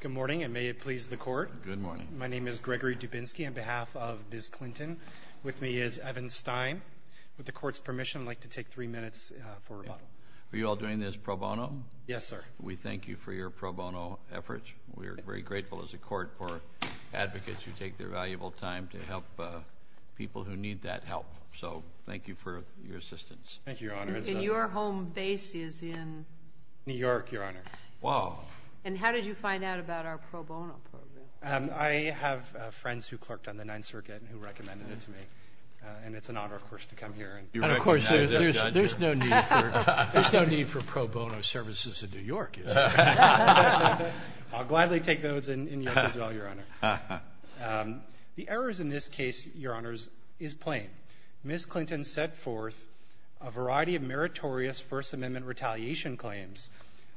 Good morning and may it please the court. Good morning. My name is Gregory Dubinsky on behalf of Biz Clinton. With me is Evan Stein. With the court's permission, I'd like to take three minutes for rebuttal. Are you all doing this pro bono? Yes, sir. We thank you for your pro bono efforts. We are very grateful as a court for advocates who take their valuable time to help people who need that help. So thank you for your assistance. Thank you, Your Honor. And your home base is in? New York. And how did you find out about our pro bono program? I have friends who clerked on the Ninth Circuit and who recommended it to me. And it's an honor, of course, to come here. And of course, there's no need for pro bono services in New York. I'll gladly take those in New York as well, Your Honor. The errors in this case, Your Honors, is plain. Ms. Clinton set forth a variety of meritorious First Amendment retaliation claims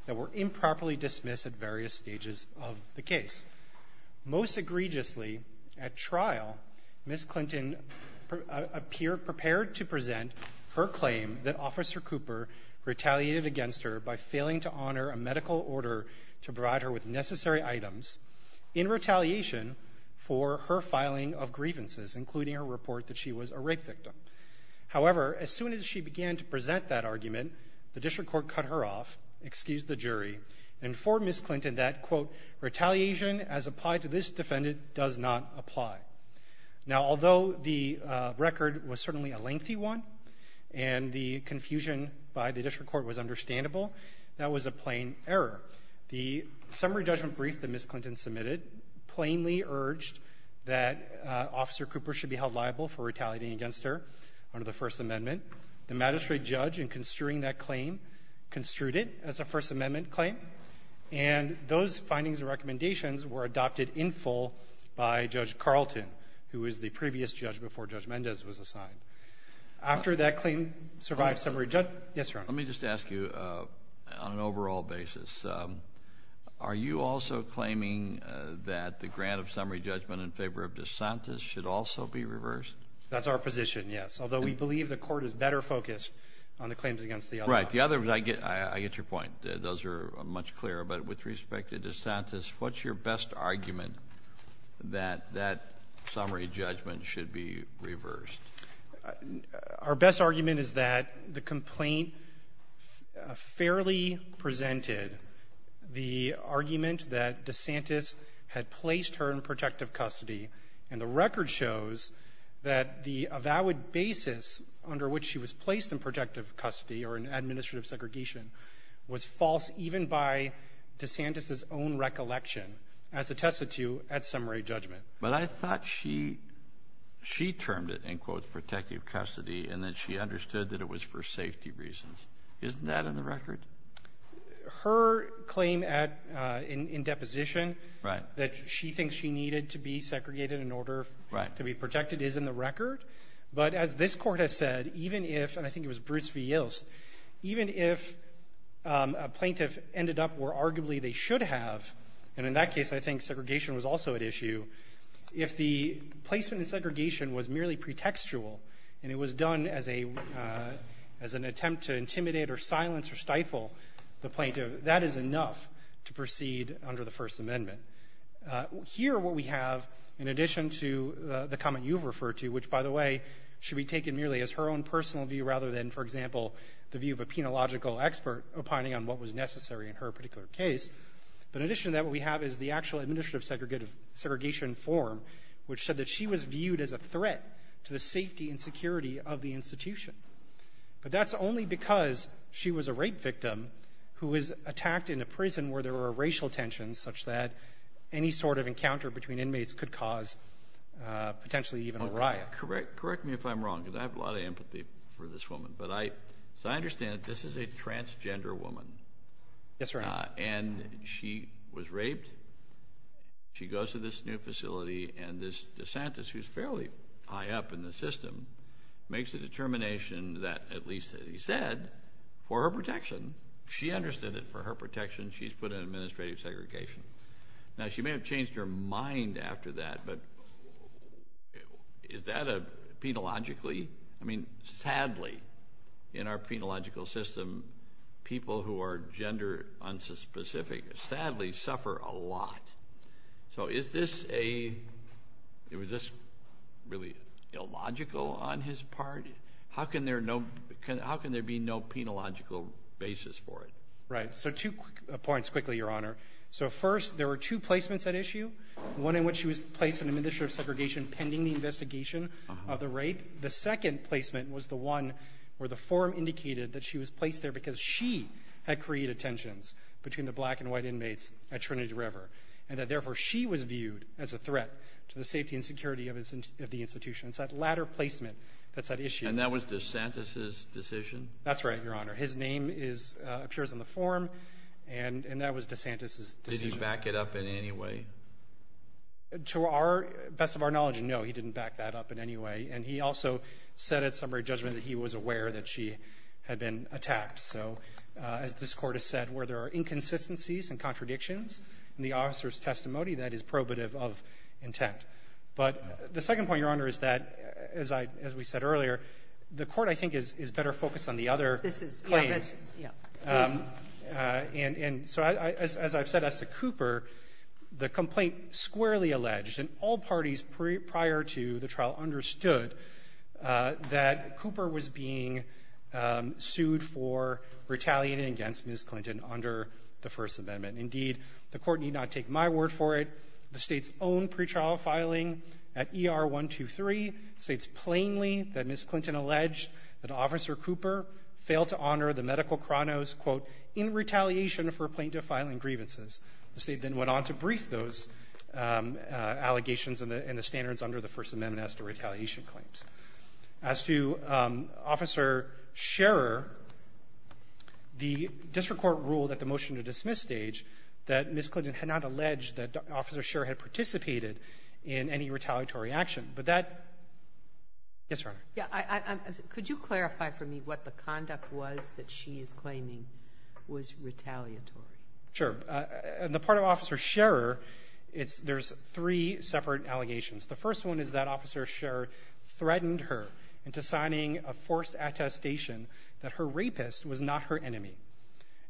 that were improperly dismissed at various stages of the case. Most egregiously, at trial, Ms. Clinton appeared prepared to present her claim that Officer Cooper retaliated against her by failing to honor a medical order to provide her with necessary items in retaliation for her filing of grievances, including her report that she was a rape victim. However, as soon as she began to present that argument, the district court cut her off, excused the jury, and informed Ms. Clinton that, quote, retaliation as applied to this defendant does not apply. Now, although the record was certainly a lengthy one and the confusion by the district court was understandable, that was a plain error. The summary judgment brief that Ms. Clinton submitted plainly urged that under the First Amendment, the magistrate judge, in construing that claim, construed it as a First Amendment claim. And those findings and recommendations were adopted in full by Judge Carlton, who was the previous judge before Judge Mendez was assigned. After that claim survived summary judgment – yes, Your Honor. Let me just ask you, on an overall basis, are you also claiming that the grant of summary judgment in favor of DeSantis should also be reversed? That's our position, yes. Although we believe the Court is better focused on the claims against the other. Right. The other was – I get – I get your point. Those are much clearer. But with respect to DeSantis, what's your best argument that that summary judgment should be reversed? Our best argument is that the complaint fairly presented the argument that DeSantis had placed her in protective custody. And the record shows that the avowed basis under which she was placed in protective custody or in administrative segregation was false even by DeSantis's own recollection, as attested to at summary judgment. But I thought she – she termed it, in quotes, protective custody, and then she understood that it was for safety reasons. Isn't that in the record? Her claim at – in deposition that she thinks she needed to be segregated in order to be protected is in the record. But as this Court has said, even if – and I think it was Bruce v. Yilfs – even if a plaintiff ended up where arguably they should have – and in that case, I think segregation was also at issue – if the placement in segregation was merely pretextual and it was done as a – as an attempt to intimidate or silence or stifle the plaintiff, that is enough to proceed under the First Amendment. Here, what we have, in addition to the comment you've referred to, which, by the way, should be taken merely as her own personal view rather than, for example, the view of a penological expert opining on what was necessary in her particular case, but in addition to that, what we have is the actual administrative segregation form which said that she was viewed as a threat to the safety and security of the institution. But that's only because she was a rape victim who was attacked in a prison where there were racial tensions such that any sort of encounter between inmates could cause potentially even a riot. Correct me if I'm wrong, because I have a lot of empathy for this woman, but I – so I understand that this is a transgender woman. Yes, Your Honor. And she was raped. She goes to this new facility, and this de Santis, who's fairly high up in the system, makes a determination that, at least as he said, for her protection – she understood that for her protection, she's put in administrative segregation. Now, she may have changed her mind after that, but is that a – penologically? I mean, sadly, in our penological system, people who are gender unspecific sadly suffer a lot. So is this a – was this really illogical on his part? How can there no – how can there be no penological basis for it? Right. So two points quickly, Your Honor. So first, there were two placements at issue, one in which she was placed in administrative segregation pending the investigation of the rape. The second placement was the one where the form indicated that she was placed there because she had created tensions between the black and white inmates at Trinity River and that, therefore, she was viewed as a threat to the safety and security of the institution. It's that latter placement that's at issue. And that was de Santis' decision? That's right, Your Honor. His name is – appears on the form, and that was de Santis' decision. Did he back it up in any way? To our – best of our knowledge, no, he didn't back that up in any way. And he also said at summary judgment that he was aware that she had been attacked. So as this Court has said, where there are inconsistencies and contradictions in the officer's testimony, that is probative of intent. But the second point, Your Honor, is that, as I – as we said earlier, the Court, I think, is better focused on the other claims. This is – yeah, that's – yeah, please. And so as I've said as to Cooper, the complaint squarely alleged, and all parties prior to the trial understood, that Cooper was being sued for retaliating against Ms. Clinton under the First Amendment. Indeed, the Court need not take my word for it. The State's own pretrial filing at ER-123 states plainly that Ms. Clinton alleged that Officer Cooper failed to honor the medical chronos, quote, in retaliation for plaintiff-filing grievances. The State then went on to brief those allegations and the standards under the First Amendment as to retaliation claims. As to Officer Scherer, the district court ruled at the motion-to-dismiss stage that Ms. Clinton had not alleged that Officer Scherer had participated in any retaliatory action. But that – yes, Your Honor. Sotomayor, could you clarify for me what the conduct was that she is claiming was retaliatory? Sure. On the part of Officer Scherer, it's – there's three separate allegations. The first one is that Officer Scherer threatened her into signing a forced attestation that her rapist was not her enemy.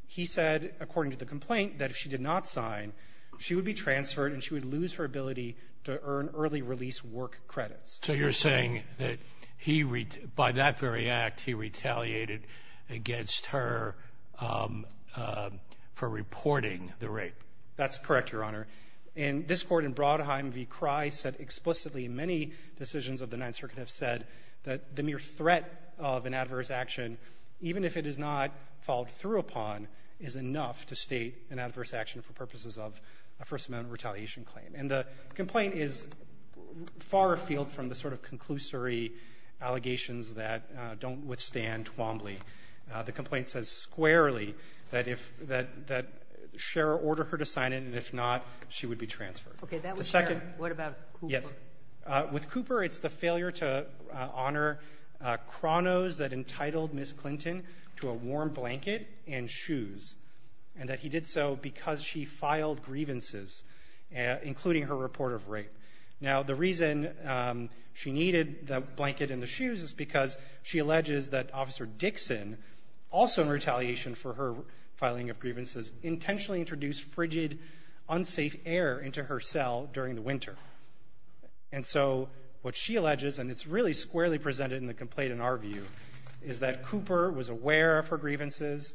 He said, according to the complaint, that if she did not sign, she would be transferred and she would lose her ability to earn early release work credits. So you're saying that he – by that very act, he retaliated against her for reporting the rape. That's correct, Your Honor. And this Court in Brodheim v. Crye said explicitly – many decisions of the Ninth Circuit have said that the mere threat of an adverse action, even if it is not followed through upon, is enough to state an adverse action for purposes of a First Amendment retaliation claim. And the complaint is far afield from the sort of conclusory allegations that don't withstand Twombly. The complaint says squarely that if – that Scherer ordered her to sign it, and if not, she would be transferred. Okay. That was Scherer. What about Cooper? Yes. With Cooper, it's the failure to honor chronos that entitled Ms. Clinton to a warm rape. Now, the reason she needed the blanket and the shoes is because she alleges that Officer Dixon, also in retaliation for her filing of grievances, intentionally introduced frigid, unsafe air into her cell during the winter. And so what she alleges, and it's really squarely presented in the complaint in our view, is that Cooper was aware of her grievances,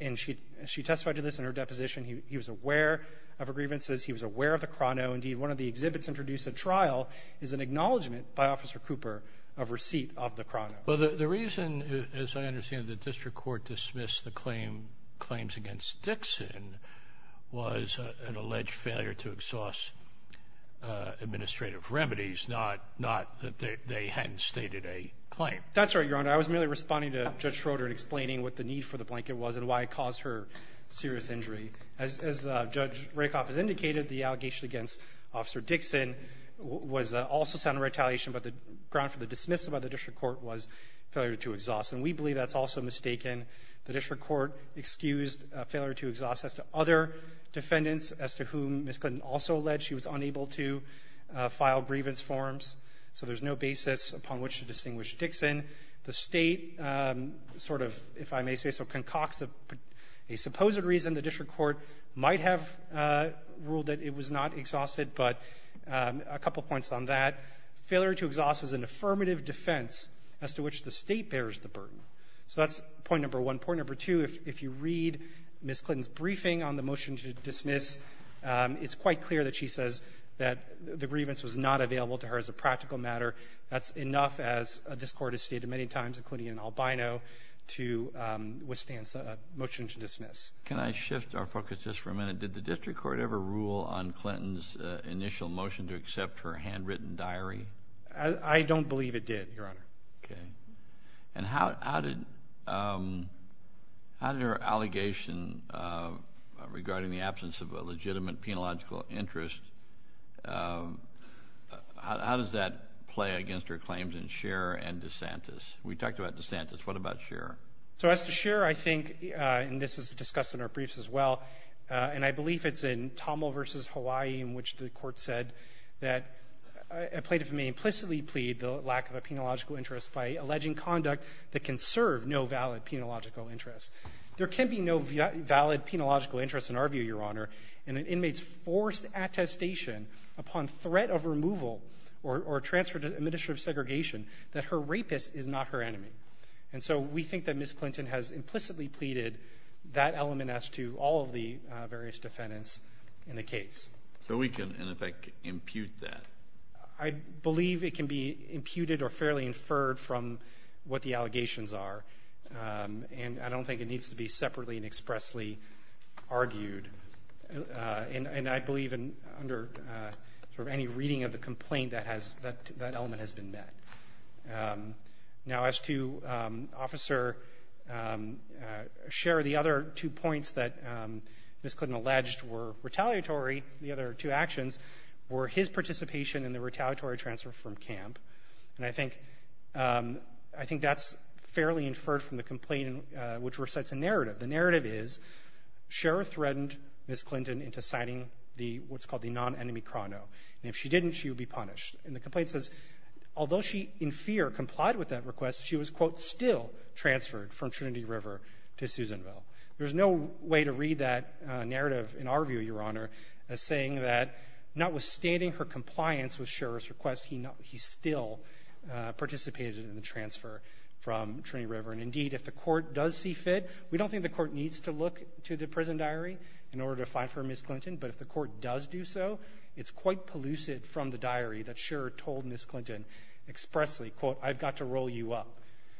and she testified to this in her deposition. He was aware of her grievances. He was aware of the chrono. Indeed, one of the exhibits introduced at trial is an acknowledgment by Officer Cooper of receipt of the chrono. Well, the reason, as I understand it, the district court dismissed the claim – claims against Dixon was an alleged failure to exhaust administrative remedies, not – not that they hadn't stated a claim. That's right, Your Honor. I was merely responding to Judge Schroeder and explaining what the need for the blanket was and why it caused her serious injury. As – as Judge Rakoff has indicated, the allegation against Officer Dixon was also sound retaliation, but the ground for the dismissal by the district court was failure to exhaust, and we believe that's also mistaken. The district court excused failure to exhaust as to other defendants as to whom Ms. Clinton also alleged she was unable to file grievance forms, so there's no basis upon which to distinguish Dixon. The State sort of, if I may say so, concocts a – a supposed reason. The district court might have ruled that it was not exhausted, but a couple points on that. Failure to exhaust is an affirmative defense as to which the State bears the burden. So that's point number one. Point number two, if you read Ms. Clinton's briefing on the motion to dismiss, it's quite clear that she says that the grievance was not available to her as a practical matter. That's enough, as this Court has stated many times, including in Albino, to withstand a motion to dismiss. Can I shift our focus just for a minute? Did the district court ever rule on Clinton's initial motion to accept her handwritten diary? I don't believe it did, Your Honor. Okay. And how – how did – how did her allegation regarding the absence of a legitimate penological interest, how does that play against her claims in Scheer and DeSantis? We talked about DeSantis. What about Scheer? So as to Scheer, I think, and this is discussed in our briefs as well, and I believe it's in Tommel v. Hawaii in which the Court said that a plaintiff may implicitly plead the lack of a penological interest by alleging conduct that can serve no valid penological interest. There can be no valid penological interest in our view, Your Honor. And an inmate's forced attestation upon threat of removal or transfer to administrative segregation that her rapist is not her enemy. And so we think that Ms. Clinton has implicitly pleaded that element as to all of the various defendants in the case. So we can, in effect, impute that? I believe it can be imputed or fairly inferred from what the allegations are. And I don't think it needs to be separately and expressly argued. And I believe under sort of any reading of the complaint, that has been met. Now, as to Officer Scheer, the other two points that Ms. Clinton alleged were retaliatory, the other two actions were his participation in the retaliatory transfer from camp. And I think that's fairly inferred from the complaint, which recites a narrative. The narrative is, Scheer threatened Ms. Clinton into signing the what's called the non-enemy chrono. And if she didn't, she would be punished. And the complaint says, although she in fear complied with that request, she was, quote, still transferred from Trinity River to Susanville. There's no way to read that narrative in our view, Your Honor, as saying that notwithstanding her compliance with Scheer's request, he still participated in the transfer from Trinity River. And indeed, if the Court does see fit, we don't think the Court needs to look to the prison diary in order to find for Ms. Clinton. But if the Court does do so, it's quite pellucid from the diary that Scheer told Ms. Clinton expressly, quote, I've got to roll you up.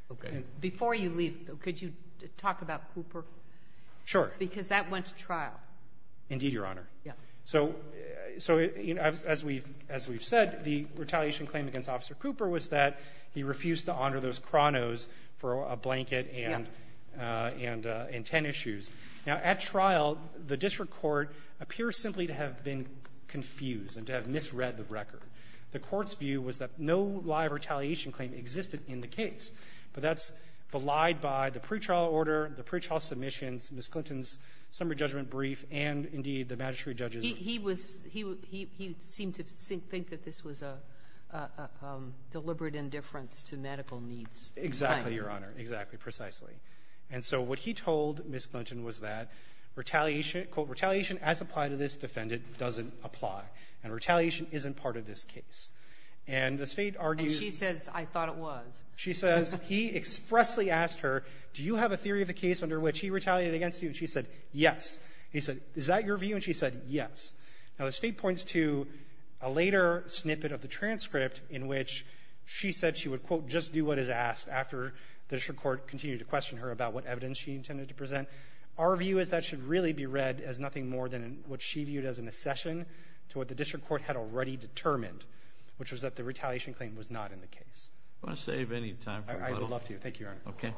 Sotomayor. Before you leave, though, could you talk about Cooper? Sure. Because that went to trial. Indeed, Your Honor. Yeah. So as we've said, the retaliation claim against Officer Cooper was that he refused to honor those chronos for a blanket and ten issues. Now, at trial, the district court appears simply to have been confused and to have misread the record. The Court's view was that no live retaliation claim existed in the case. But that's belied by the pretrial order, the pretrial submissions, Ms. Clinton's summary judgment brief, and, indeed, the magistrate judge's room. So deliberate indifference to medical needs. Exactly, Your Honor. Exactly. Precisely. And so what he told Ms. Clinton was that retaliation, quote, retaliation as applied to this defendant doesn't apply, and retaliation isn't part of this case. And the State argues And she says, I thought it was. She says he expressly asked her, do you have a theory of the case under which he retaliated against you, and she said, yes. He said, is that your view, and she said, yes. Now, the State points to a later snippet of the transcript in which she said she would, quote, just do what is asked after the district court continued to question her about what evidence she intended to present. Our view is that should really be read as nothing more than what she viewed as an accession to what the district court had already determined, which was that the retaliation claim was not in the case. I want to save any time for rebuttal. I would love to. Thank you, Your Honor. Okay.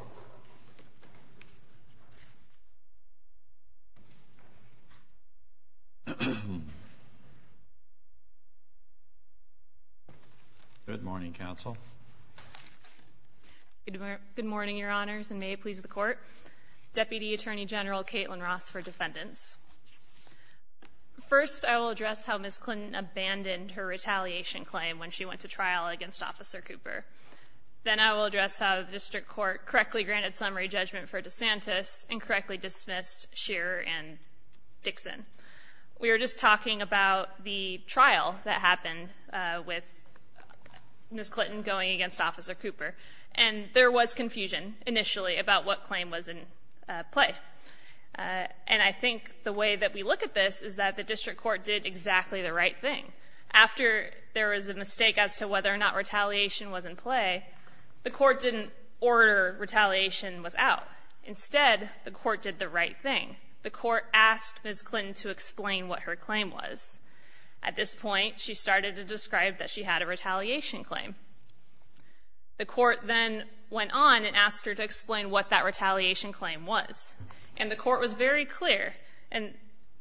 Good morning, counsel. Good morning, Your Honors, and may it please the Court. Deputy Attorney General Kaitlyn Ross for defendants. First, I will address how Ms. Clinton abandoned her retaliation claim when she went to trial against Officer Cooper. Then I will address how the district court correctly granted summary judgment for DeSantis and correctly dismissed Shearer and Dixon. We were just talking about the trial that happened with Ms. Clinton going against Officer Cooper, and there was confusion initially about what claim was in play. And I think the way that we look at this is that the district court did exactly the right thing. After there was a mistake as to whether or not retaliation was in play, the court didn't order retaliation was out. Instead, the court did the right thing. The court asked Ms. Clinton to explain what her claim was. At this point, she started to describe that she had a retaliation claim. The court then went on and asked her to explain what that retaliation claim was. And the court was very clear, and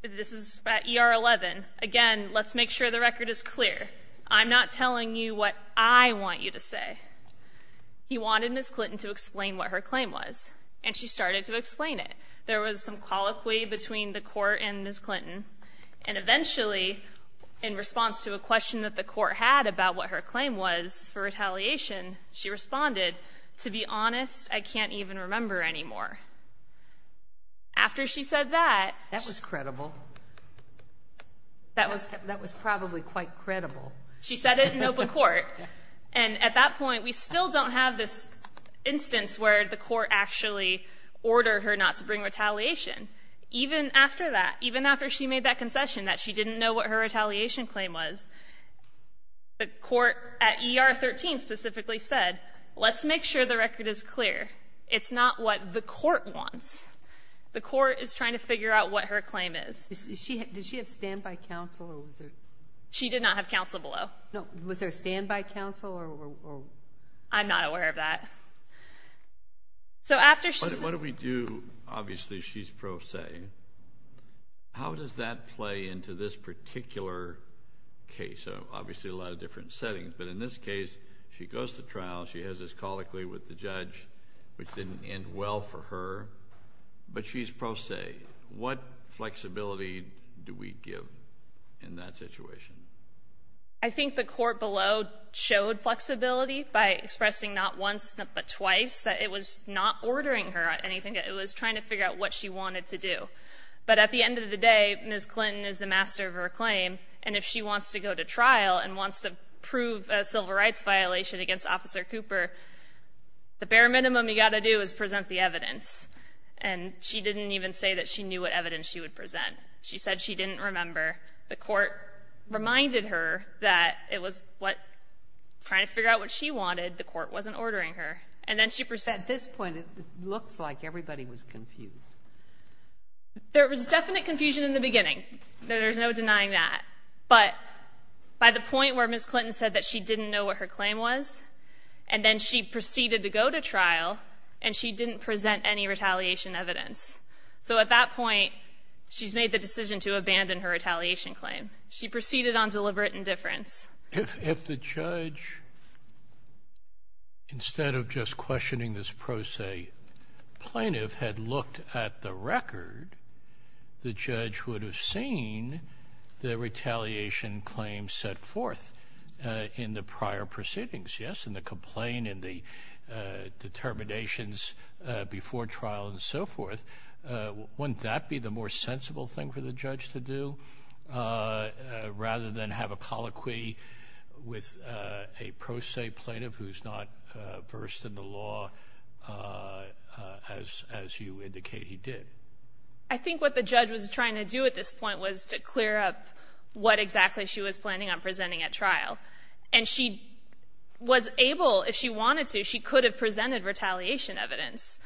this is at ER 11. Again, let's make sure the record is clear. I'm not telling you what I want you to say. He wanted Ms. Clinton to explain what her claim was, and she started to explain it. There was some colloquy between the court and Ms. Clinton, and eventually, in response to a question that the court had about what her claim was for retaliation, she responded, to be honest, I can't even remember anymore. That was probably quite credible. She said it in open court. And at that point, we still don't have this instance where the court actually ordered her not to bring retaliation. Even after that, even after she made that concession that she didn't know what her retaliation claim was, the court at ER 13 specifically said, let's make sure the record is clear. It's not what the court wants. The court is trying to figure out what her claim is. Did she have standby counsel? She did not have counsel below. Was there a standby counsel? I'm not aware of that. So after she said What do we do? Obviously, she's pro se. How does that play into this particular case? Obviously, a lot of different settings. But in this case, she goes to trial. She has this colloquy with the judge, which didn't end well for her. But she's pro se. What flexibility do we give in that situation? I think the court below showed flexibility by expressing not once, but twice, that it was not ordering her anything. It was trying to figure out what she wanted to do. But at the end of the day, Ms. Clinton is the master of her claim. And if she wants to go to trial and wants to prove a civil rights violation against Officer Cooper, the bare minimum you've got to do is present the evidence. And she didn't even say that she knew what evidence she would present. She said she didn't remember. The court reminded her that it was trying to figure out what she wanted. The court wasn't ordering her. And then she presented. At this point, it looks like everybody was confused. There was definite confusion in the beginning. There's no denying that. But by the point where Ms. Clinton said that she didn't know what her claim was, and then she proceeded to go to trial, and she didn't present any retaliation evidence. So at that point, she's made the decision to abandon her retaliation claim. She proceeded on deliberate indifference. If the judge, instead of just questioning this pro se plaintiff, had looked at the record, the judge would have seen the retaliation claim set forth in the prior proceedings, yes? And the complaint and the determinations before trial and so forth. Wouldn't that be the more sensible thing for the judge to do, rather than have a colloquy with a pro se plaintiff who's not versed in the law, as you indicate he did? I think what the judge was trying to do at this point was to clear up what exactly she was planning on presenting at trial. And she was able, if she wanted to, she could have presented retaliation evidence.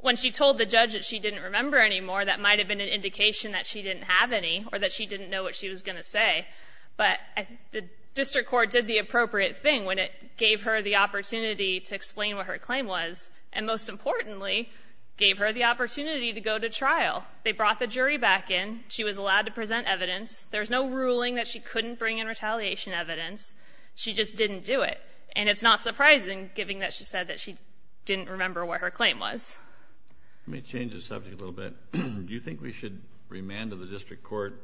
When she told the judge that she didn't remember any more, that might have been an indication that she didn't have any, or that she didn't know what she was going to say. But the district court did the appropriate thing when it gave her the opportunity to explain what her claim was, and most importantly, gave her the opportunity to go to trial. They brought the jury back in. She was allowed to present evidence. There's no ruling that she couldn't bring in retaliation evidence. She just didn't do it. And it's not surprising, given that she said that she didn't remember what her claim was. Let me change the subject a little bit. Do you think we should remand to the district court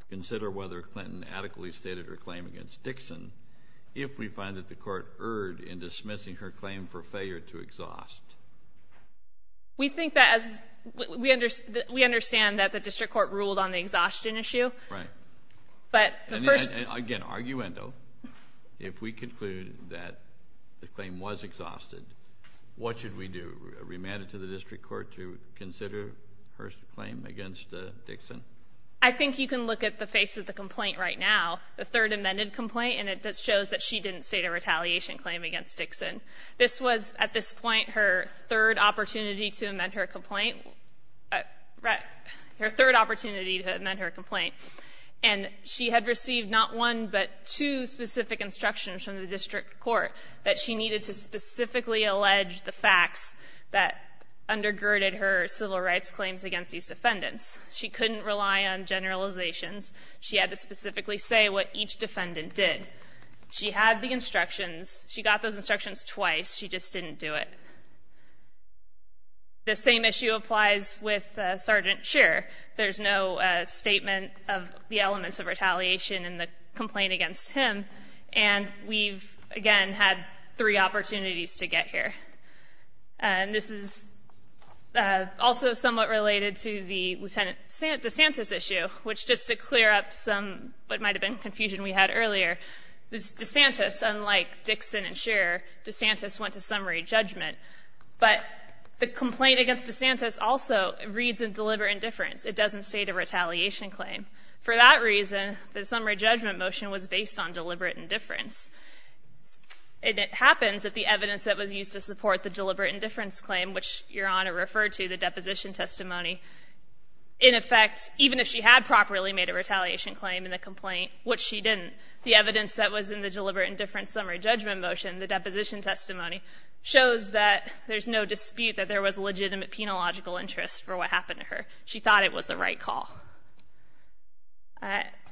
to consider whether Clinton adequately stated her claim against Dixon if we find that the court erred in dismissing her claim for failure to exhaust? We think that as we understand that the district court ruled on the exhaustion issue. Right. But the first. And again, arguendo, if we conclude that the claim was exhausted, what should we do? Remand it to the district court to consider her claim against Dixon? I think you can look at the face of the complaint right now, the third amended complaint, and it just shows that she didn't state a retaliation claim against Dixon. This was, at this point, her third opportunity to amend her complaint. Right. Her third opportunity to amend her complaint. And she had received not one, but two specific instructions from the district court that she needed to specifically allege the facts that undergirded her civil rights claims against these defendants. She couldn't rely on generalizations. She had to specifically say what each defendant did. She had the instructions. She got those instructions twice. She just didn't do it. The same issue applies with Sergeant Scheer. There's no statement of the elements of retaliation in the complaint against him. And we've, again, had three opportunities to get here. And this is also somewhat related to the Lieutenant DeSantis issue, which just to clear up some what might have been confusion we had earlier. DeSantis, unlike Dixon and Scheer, DeSantis went to summary judgment. But the complaint against DeSantis also reads in deliberate indifference. It doesn't state a retaliation claim. For that reason, the summary judgment motion was based on deliberate indifference. And it happens that the evidence that was used to support the deliberate indifference claim, which Your Honor referred to, the deposition testimony, in effect, even if she had properly made a retaliation claim in the complaint, which she didn't, the evidence that was in the deliberate indifference summary judgment motion, the deposition testimony, shows that there's no dispute that there was legitimate penological interest for what happened to her. She thought it was the right call.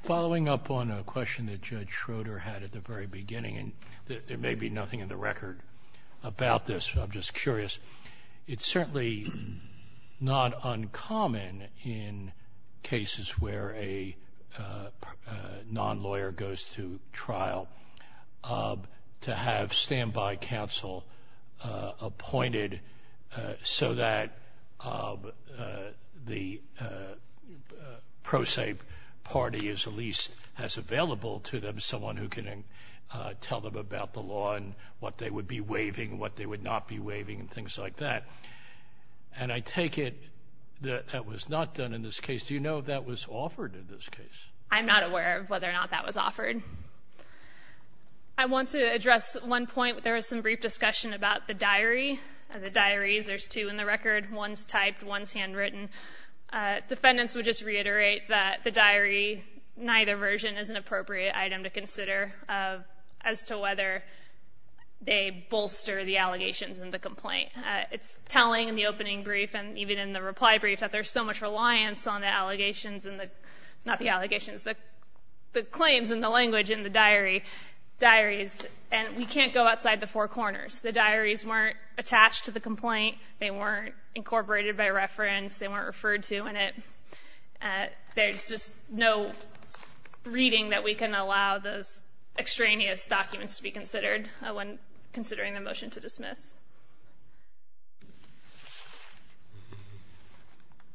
Following up on a question that Judge Schroeder had at the very beginning, and there may be nothing in the record about this, but I'm just curious, it's certainly not uncommon in cases where a non-lawyer goes to trial to have standby counsel appointed so that the pro se party is at least as available to them as someone who can tell them about the law and what they would be waiving, what they would not be waiving, and things like that. And I take it that that was not done in this case. Do you know if that was offered in this case? I'm not aware of whether or not that was offered. I want to address one point. There was some brief discussion about the diary, the diaries. There's two in the record, one's typed, one's handwritten. Defendants would just reiterate that the diary, neither version, is an appropriate item to consider as to whether they bolster the allegations in the complaint. It's telling in the opening brief, and even in the reply brief, that there's so much reliance on the allegations, not the allegations, the claims and the language in the diaries, and we can't go outside the four corners. The diaries weren't attached to the complaint, they weren't incorporated by reference, they weren't referred to, and there's just no reading that we can allow those extraneous documents to be considered when considering the motion to dismiss.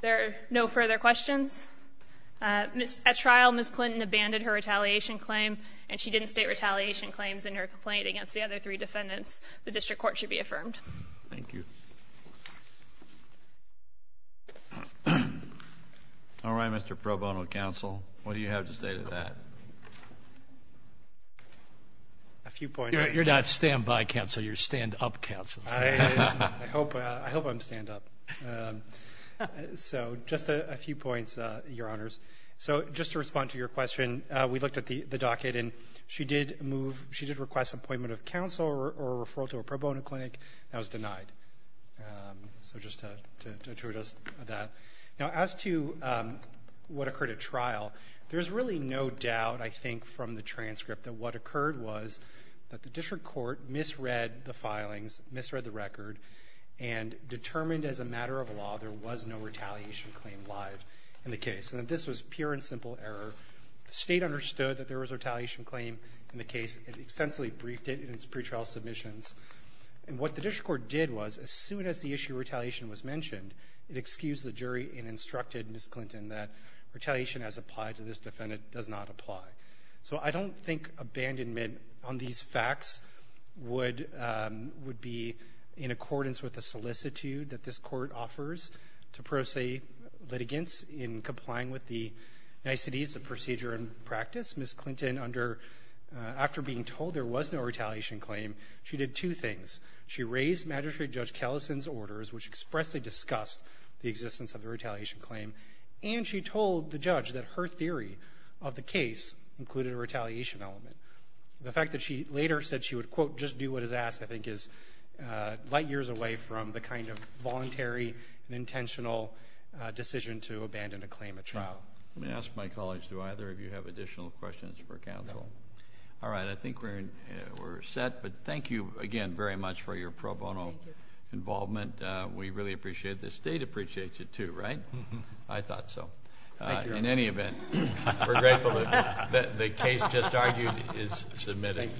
There are no further questions. At trial, Ms. Clinton abandoned her retaliation claim, and she didn't state retaliation claims in her complaint against the other three defendants. The district court should be affirmed. Thank you. All right, Mr. Pro Bono counsel, what do you have to say to that? A few points. You're not standby counsel, you're stand up counsel. I hope I'm stand up. So just a few points, Your Honors. So just to respond to your question, we looked at the docket and she did move, she did request appointment of counsel or referral to a pro bono clinic, that was denied. So just to attribute us to that. Now, as to what occurred at trial, there's really no doubt, I think, from the transcript that what occurred was that the district court misread the filings, misread the record, and determined as a matter of law there was no retaliation claim live in the case. And that this was pure and simple error. The State understood that there was a retaliation claim in the case. It extensively briefed it in its pretrial submissions. And what the district court did was, as soon as the issue of retaliation was mentioned, it excused the jury and instructed Ms. Clinton that retaliation as applied to this defendant does not apply. So I don't think abandonment on these facts would be in accordance with the solicitude that this Court offers to pro se litigants in complying with the niceties of procedure and practice. Ms. Clinton, under, after being told there was no retaliation claim, she did two things. She raised Magistrate Judge Callison's orders, which expressly discussed the existence of the retaliation claim. And she told the judge that her theory of the case included a retaliation element. The fact that she later said she would, quote, just do what is asked, I think, is light years away from the kind of voluntary and intentional decision to abandon a claim at trial. Let me ask my colleagues, do either of you have additional questions for counsel? All right. I think we're set, but thank you again very much for your pro bono involvement. We really appreciate it. The State appreciates it, too, right? I thought so. In any event, we're grateful that the case just argued is submitted.